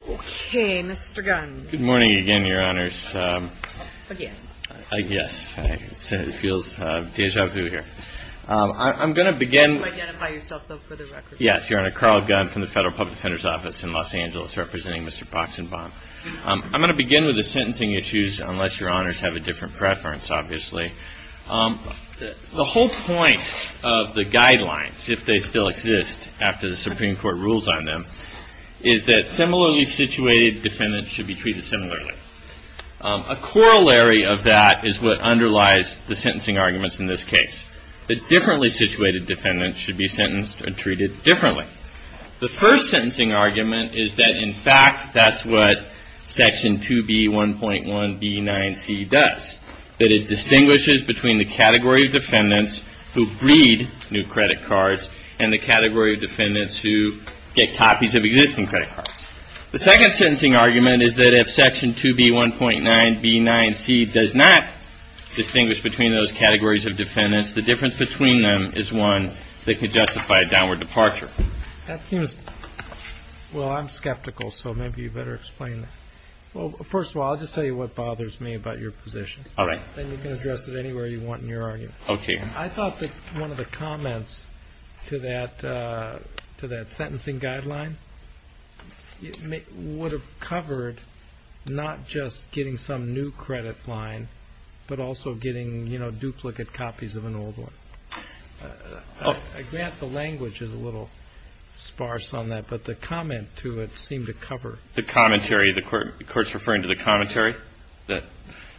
The whole point of the guidelines, if they still exist after the Supreme Court rules on them, is that similarly situated defendants should be treated similarly. A corollary of that is what underlies the sentencing arguments in this case, that differently situated defendants should be sentenced and treated differently. The first sentencing argument is that, in fact, that's what section 2B1.1B9C does, that it distinguishes between the category of defendants who read new credit cards and the category of defendants who get copies of existing credit cards. The second sentencing argument is that if section 2B1.9B9C does not distinguish between those categories of defendants, the difference between them is one that could justify a downward departure. I thought that one of the comments to that sentencing guideline would have covered not just getting some new credit line, but also getting duplicate copies of an old one. I grant the language is a little sparse on that, but the comment to it seemed to cover. The commentary, the court's referring to the commentary?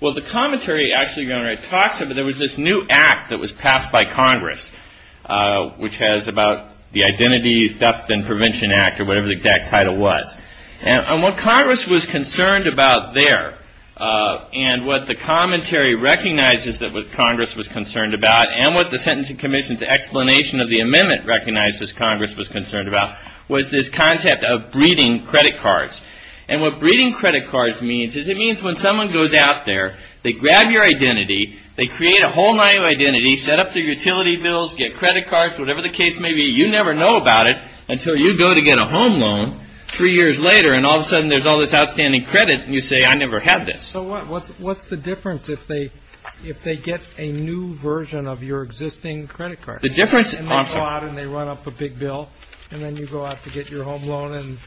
Well, the commentary actually talks about there was this new act that was passed by Congress, which has about the Identity Theft and Prevention Act, or whatever the exact title was. And what Congress was concerned about there, and what the commentary recognizes that Congress was concerned about, and what the Sentencing Commission's explanation of the amendment recognizes Congress was concerned about, was this concept of breeding credit cards. And what breeding credit cards means is it means when someone goes out there, they grab your identity, they create a whole new identity, set up their utility bills, get credit cards, whatever the case may be, you never know about it until you go to get a home loan three years later and all of a sudden there's all this outstanding credit and you say, I never had this. So what's the difference if they get a new version of your existing credit card? And they go out and they run up a big bill, and then you go out to get your home loan and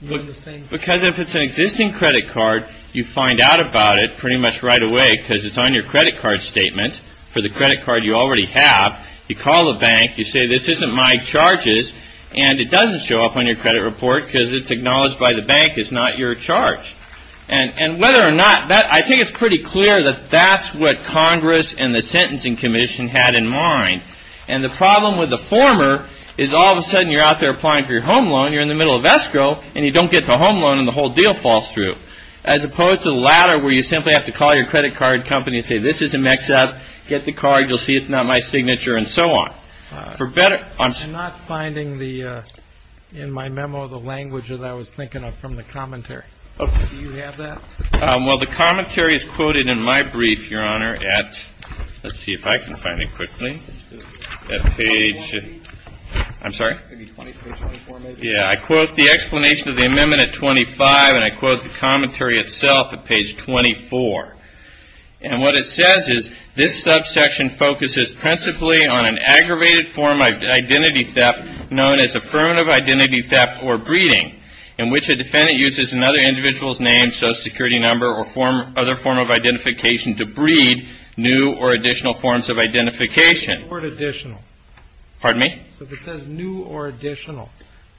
you're in the same situation. Because if it's an existing credit card, you find out about it pretty much right away because it's on your credit card statement. For the credit card you already have, you call the bank, you say, this isn't my charges, and it doesn't show up on your credit report because it's acknowledged by the bank it's not your charge. And whether or not, I think it's pretty clear that that's what Congress and the Sentencing Commission had in mind. And the problem with the former is all of a sudden you're out there applying for your home loan, you're in the middle of escrow, and you don't get the home loan and the whole deal falls through. As opposed to the latter where you simply have to call your credit card company and say, this is a mix-up, get the card, you'll see it's not my signature, and so on. I'm not finding in my memo the language that I was thinking of from the commentary. Do you have that? Well, the commentary is quoted in my brief, Your Honor, at, let's see if I can find it quickly, at page, I'm sorry? Page 24, maybe? Yeah, I quote the explanation of the amendment at 25, and I quote the commentary itself at page 24. And what it says is, this subsection focuses principally on an aggravated form of identity theft known as affirmative identity theft or breeding, in which a defendant uses another individual's name, social security number, or other form of identification to breed new or additional forms of identification. The word additional. Pardon me? So if it says new or additional,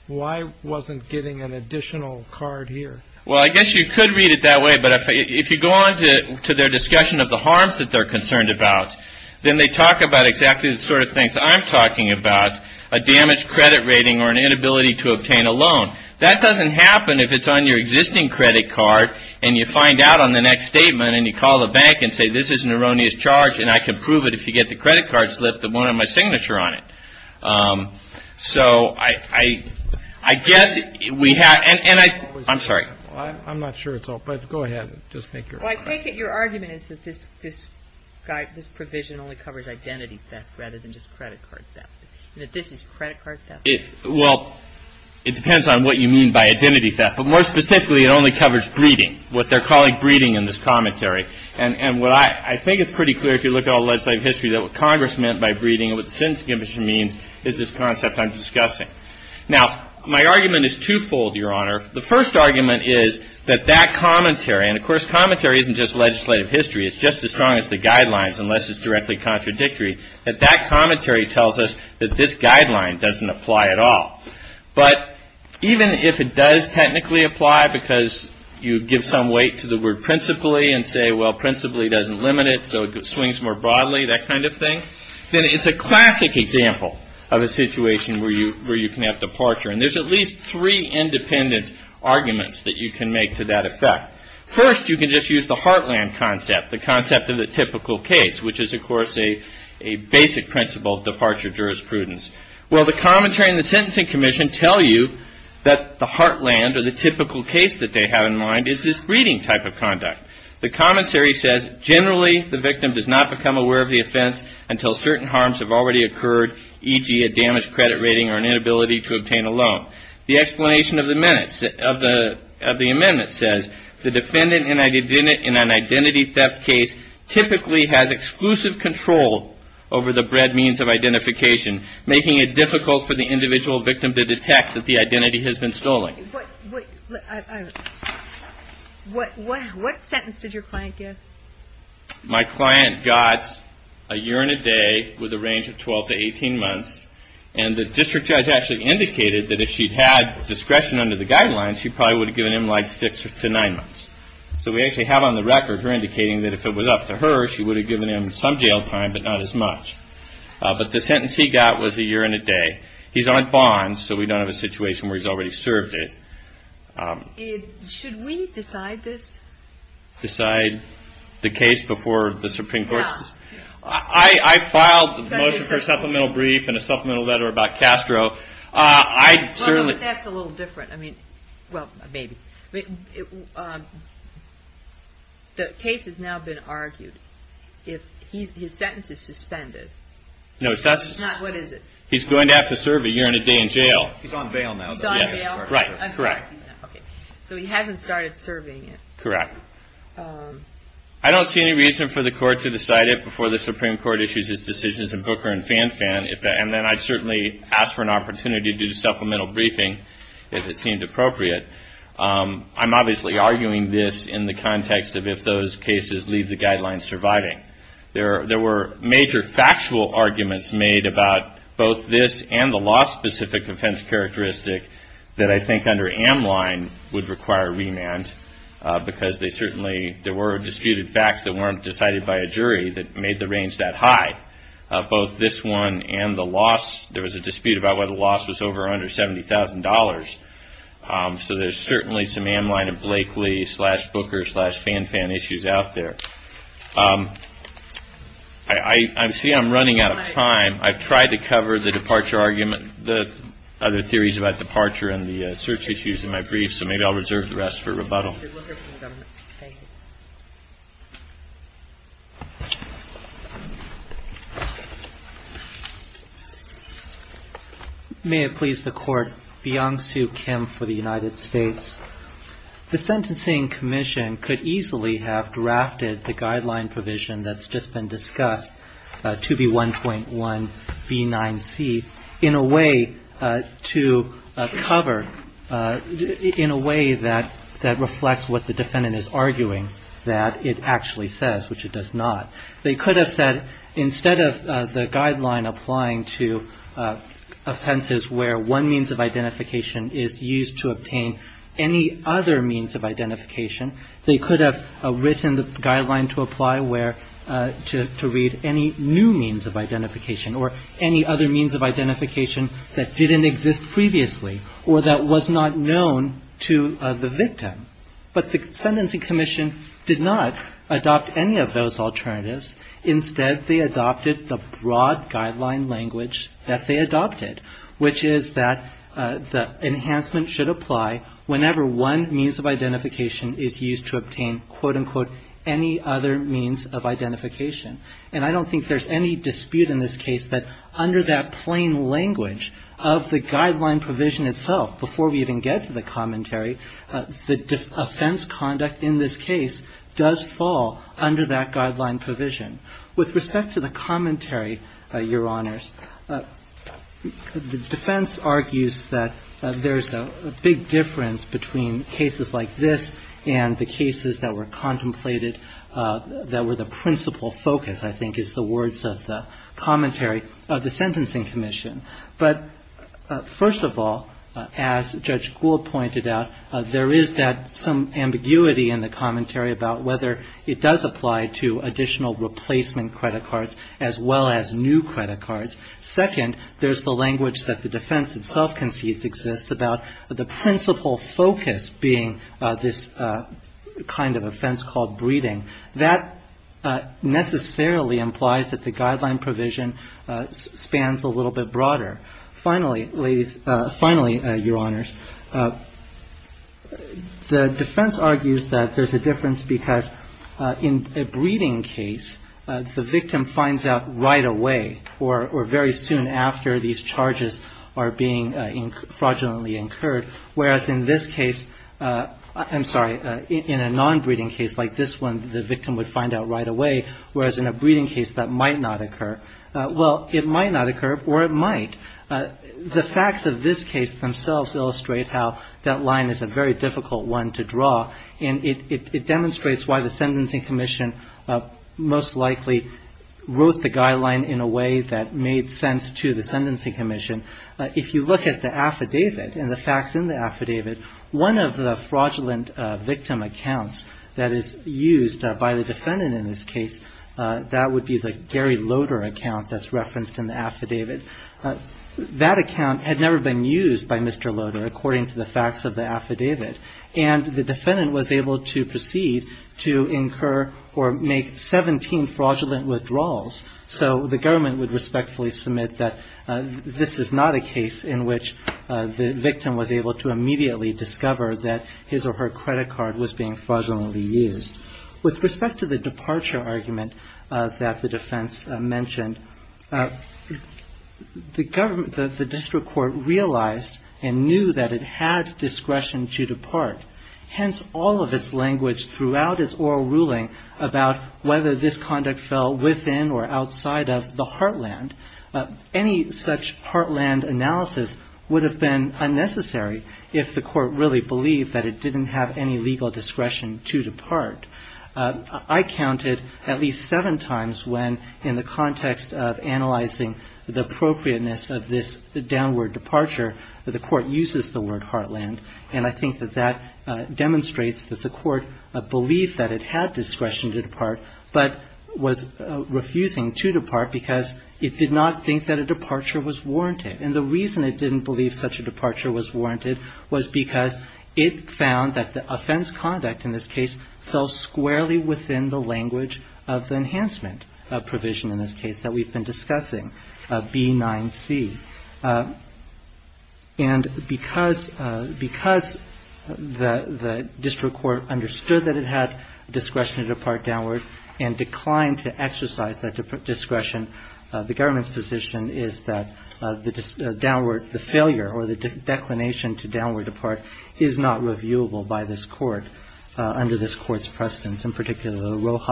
why wasn't getting an additional card here? Well, I guess you could read it that way, but if you go on to their discussion of the harms that they're concerned about, then they talk about exactly the sort of things I'm talking about, a damaged credit rating or an inability to obtain a loan. That doesn't happen if it's on your existing credit card and you find out on the next statement and you call the bank and say, this is an erroneous charge and I can prove it if you get the credit card slip that won't have my signature on it. So I guess we have, and I'm sorry. I'm not sure it's all, but go ahead. Just make your argument. Well, I take it your argument is that this provision only covers identity theft rather than just credit card theft, and that this is credit card theft? Well, it depends on what you mean by identity theft. But more specifically, it only covers breeding, what they're calling breeding in this commentary. And what I think is pretty clear, if you look at all the legislative history, that what Congress meant by breeding and what the Sentencing Commission means is this concept I'm discussing. Now, my argument is twofold, Your Honor. The first argument is that that commentary, and of course commentary isn't just legislative history, it's just as strong as the guidelines unless it's directly contradictory, that that commentary tells us that this guideline doesn't apply at all. But even if it does technically apply because you give some weight to the word principally and say, well, principally doesn't limit it, so it swings more broadly, that kind of thing, then it's a classic example of a situation where you can have departure. And there's at least three independent arguments that you can make to that effect. First, you can just use the heartland concept, the concept of the typical case, which is, of course, a basic principle of departure jurisprudence. Well, the commentary and the Sentencing Commission tell you that the heartland or the typical case that they have in mind is this breeding type of conduct. The commentary says, generally, the victim does not become aware of the offense until certain harms have already occurred, e.g., a damaged credit rating or an inability to obtain a loan. The explanation of the amendment says, the defendant in an identity theft case typically has exclusive control over the bred means of identification, making it difficult for the individual victim to detect that the identity has been stolen. What sentence did your client get? My client got a year and a day with a range of 12 to 18 months, and the district judge actually indicated that if she'd had discretion under the guidelines, she probably would have given him, like, six to nine months. So we actually have on the record her indicating that if it was up to her, she would have given him some jail time but not as much. But the sentence he got was a year and a day. He's on bond, so we don't have a situation where he's already served it. Should we decide this? Decide the case before the Supreme Court? I filed a motion for a supplemental brief and a supplemental letter about Castro. But that's a little different. I mean, well, maybe. The case has now been argued. His sentence is suspended. What is it? He's going to have to serve a year and a day in jail. He's on bail now. He's on bail? Right. Correct. Okay. So he hasn't started serving it. Correct. I don't see any reason for the court to decide it before the Supreme Court issues its decisions in Booker and Fanfan. And then I'd certainly ask for an opportunity to do supplemental briefing if it seemed appropriate. I'm obviously arguing this in the context of if those cases leave the guidelines surviving. There were major factual arguments made about both this and the law-specific offense characteristic that I think under Amline would require remand, because there were disputed facts that weren't decided by a jury that made the range that high. Both this one and the loss, there was a dispute about whether the loss was over or under $70,000. So there's certainly some Amline and Blakely slash Booker slash Fanfan issues out there. I see I'm running out of time. I've tried to cover the departure argument, the other theories about departure and the search issues in my brief, so maybe I'll reserve the rest for rebuttal. Thank you. May it please the Court, Byung-Soo Kim for the United States. The Sentencing Commission could easily have drafted the guideline provision that's just been discussed, 2B1.1B9C, in a way to cover, in a way that reflects what the defendant is arguing that it actually says, which it does not. They could have said instead of the guideline applying to offenses where one means of identification is used to obtain any other means of identification, they could have written the guideline to apply where, to read any new means of identification or any other means of identification that didn't exist previously or that was not known to the victim. But the Sentencing Commission did not adopt any of those alternatives. Instead, they adopted the broad guideline language that they adopted, which is that the enhancement should apply whenever one means of identification is used to obtain, quote, unquote, any other means of identification. And I don't think there's any dispute in this case that under that plain language of the guideline provision itself, before we even get to the commentary, the offense conduct in this case does fall under that guideline provision. With respect to the commentary, Your Honors, the defense argues that there's a big difference between cases like this and the cases that were contemplated that were the principal focus, I think, is the words of the commentary of the Sentencing Commission. But first of all, as Judge Gould pointed out, there is that some ambiguity in the commentary about whether it does apply to additional replacement credit cards as well as new credit cards. Second, there's the language that the defense itself concedes exists about the principal focus being this kind of offense called breeding. That necessarily implies that the guideline provision spans a little bit broader. Finally, Your Honors, the defense argues that there's a difference because in a breeding case, the victim finds out right away or very soon after these charges are being fraudulently incurred, whereas in this case, I'm sorry, in a non-breeding case like this one, the victim would find out right away, whereas in a breeding case, that might not occur. Well, it might not occur or it might. The facts of this case themselves illustrate how that line is a very difficult one to draw, and the defense most likely wrote the guideline in a way that made sense to the Sentencing Commission. If you look at the affidavit and the facts in the affidavit, one of the fraudulent victim accounts that is used by the defendant in this case, that would be the Gary Loader account that's referenced in the affidavit. That account had never been used by Mr. Loader, according to the facts of the affidavit, and the defendant was able to proceed to incur or make 17 fraudulent withdrawals, so the government would respectfully submit that this is not a case in which the victim was able to immediately discover that his or her credit card was being fraudulently used. With respect to the departure argument that the defense mentioned, the district court realized and knew that it had discretion to depart. Hence, all of its language throughout its oral ruling about whether this conduct fell within or outside of the heartland. Any such heartland analysis would have been unnecessary if the court really believed that it didn't have any legal discretion to depart. I counted at least seven times when, in the context of analyzing the appropriateness of this downward departure, the court uses the word heartland, and I think that that demonstrates that the court believed that it had discretion to depart, but was refusing to depart because it did not think that a departure was warranted. And the reason it didn't believe such a departure was warranted was because it found that the offense conduct in this case fell squarely within the language of the enhancement provision in this case that we've been discussing, B9C. And because the district court understood that it had discretion to depart downward and declined to exercise that discretion, the government's position is that the downward, the failure or the declination to downward depart is not reviewable by this court under this court's presidency. And so I think that the court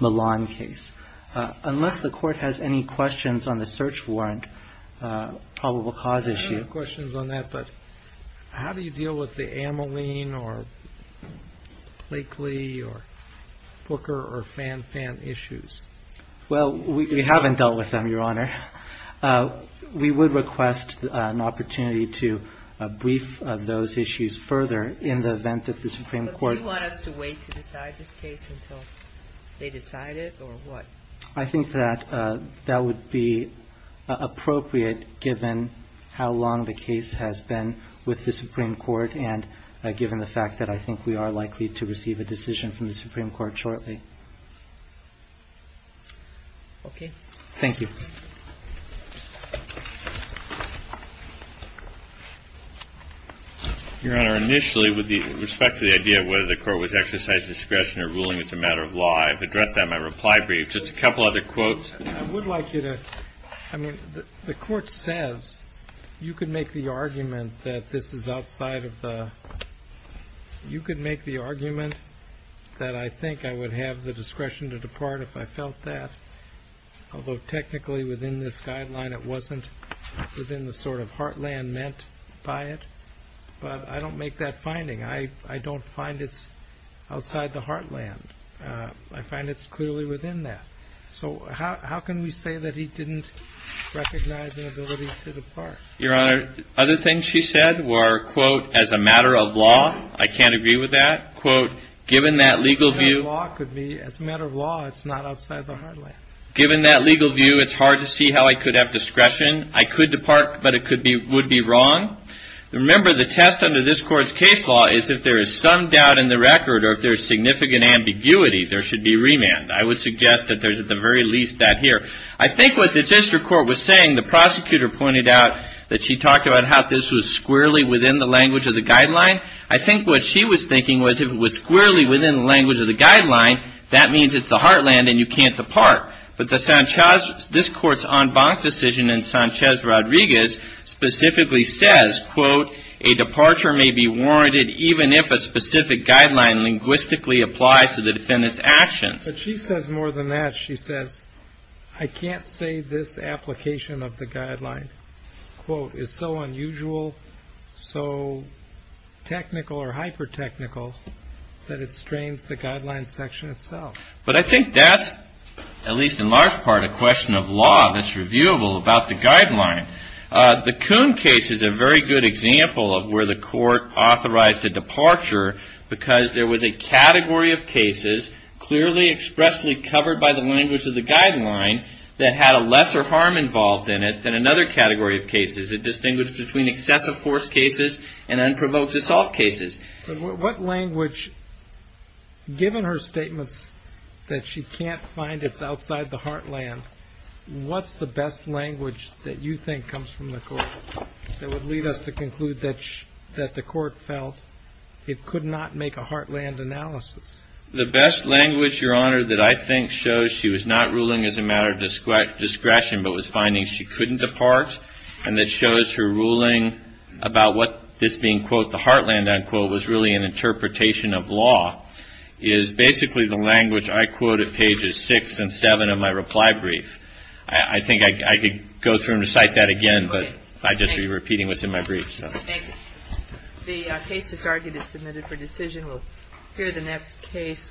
would be willing to look at that and to consider a number of other questions, in particular the Rojas-Milan case. Unless the court has any questions on the search warrant probable cause issue. I don't have questions on that, but how do you deal with the Ameline or Blakely or Booker or Fan Fan issues? Well, we haven't dealt with them, Your Honor. We would request an opportunity to brief those issues further in the event that the Supreme Court And would that be appropriate in this case until they decide it, or what? I think that that would be appropriate given how long the case has been with the Supreme Court and given the fact that I think we are likely to receive a decision from the Supreme Court shortly. Okay. Thank you. I would like you to, I mean, the court says you could make the argument that this is outside of the, you could make the argument that I think I would have the discretion to depart if I felt that, although technically within this guideline it wasn't within the sort of heartland meant by it, but I don't make that argument. I find it's clearly within that. So how can we say that he didn't recognize an ability to depart? Your Honor, other things she said were, quote, as a matter of law, I can't agree with that. Quote, given that legal view. As a matter of law, it's not outside the heartland. Given that legal view, it's hard to see how I could have discretion. I could depart, but it would be wrong. Remember, the test under this court's case law is if there is some doubt in the record or if there is significant ambiguity, there should be remand. I would suggest that there's at the very least that here. I think what the district court was saying, the prosecutor pointed out that she talked about how this was squarely within the language of the guideline. I think what she was thinking was if it was squarely within the language of the guideline, that means it's the heartland and you can't depart. But this court's en banc decision in Sanchez-Rodriguez specifically says, quote, a departure may be warranted even if a specific guideline linguistically applies to the defendant's actions. But she says more than that. She says, I can't say this application of the guideline, quote, is so unusual, so technical or hyper-technical that it strains the guideline section itself. But I think that's, at least in large part, a question of law that's reviewable about the guideline. The Coon case is a very good example of where the court authorized a departure because there was a category of cases clearly expressly covered by the language of the guideline that had a lesser harm involved in it than another category of cases. It distinguished between excessive force cases and unprovoked assault cases. But what language, given her statements that she can't find it's outside the heartland, what's the best language that you think comes from the court that would lead us to conclude that the court felt it could not make a heartland analysis? The best language, Your Honor, that I think shows she was not ruling as a matter of discretion but was finding she couldn't depart and that shows her was really an interpretation of law, is basically the language I quote at pages 6 and 7 of my reply brief. I think I could go through and recite that again, but I'd just be repeating what's in my brief. The case is submitted for decision. We'll hear the next case.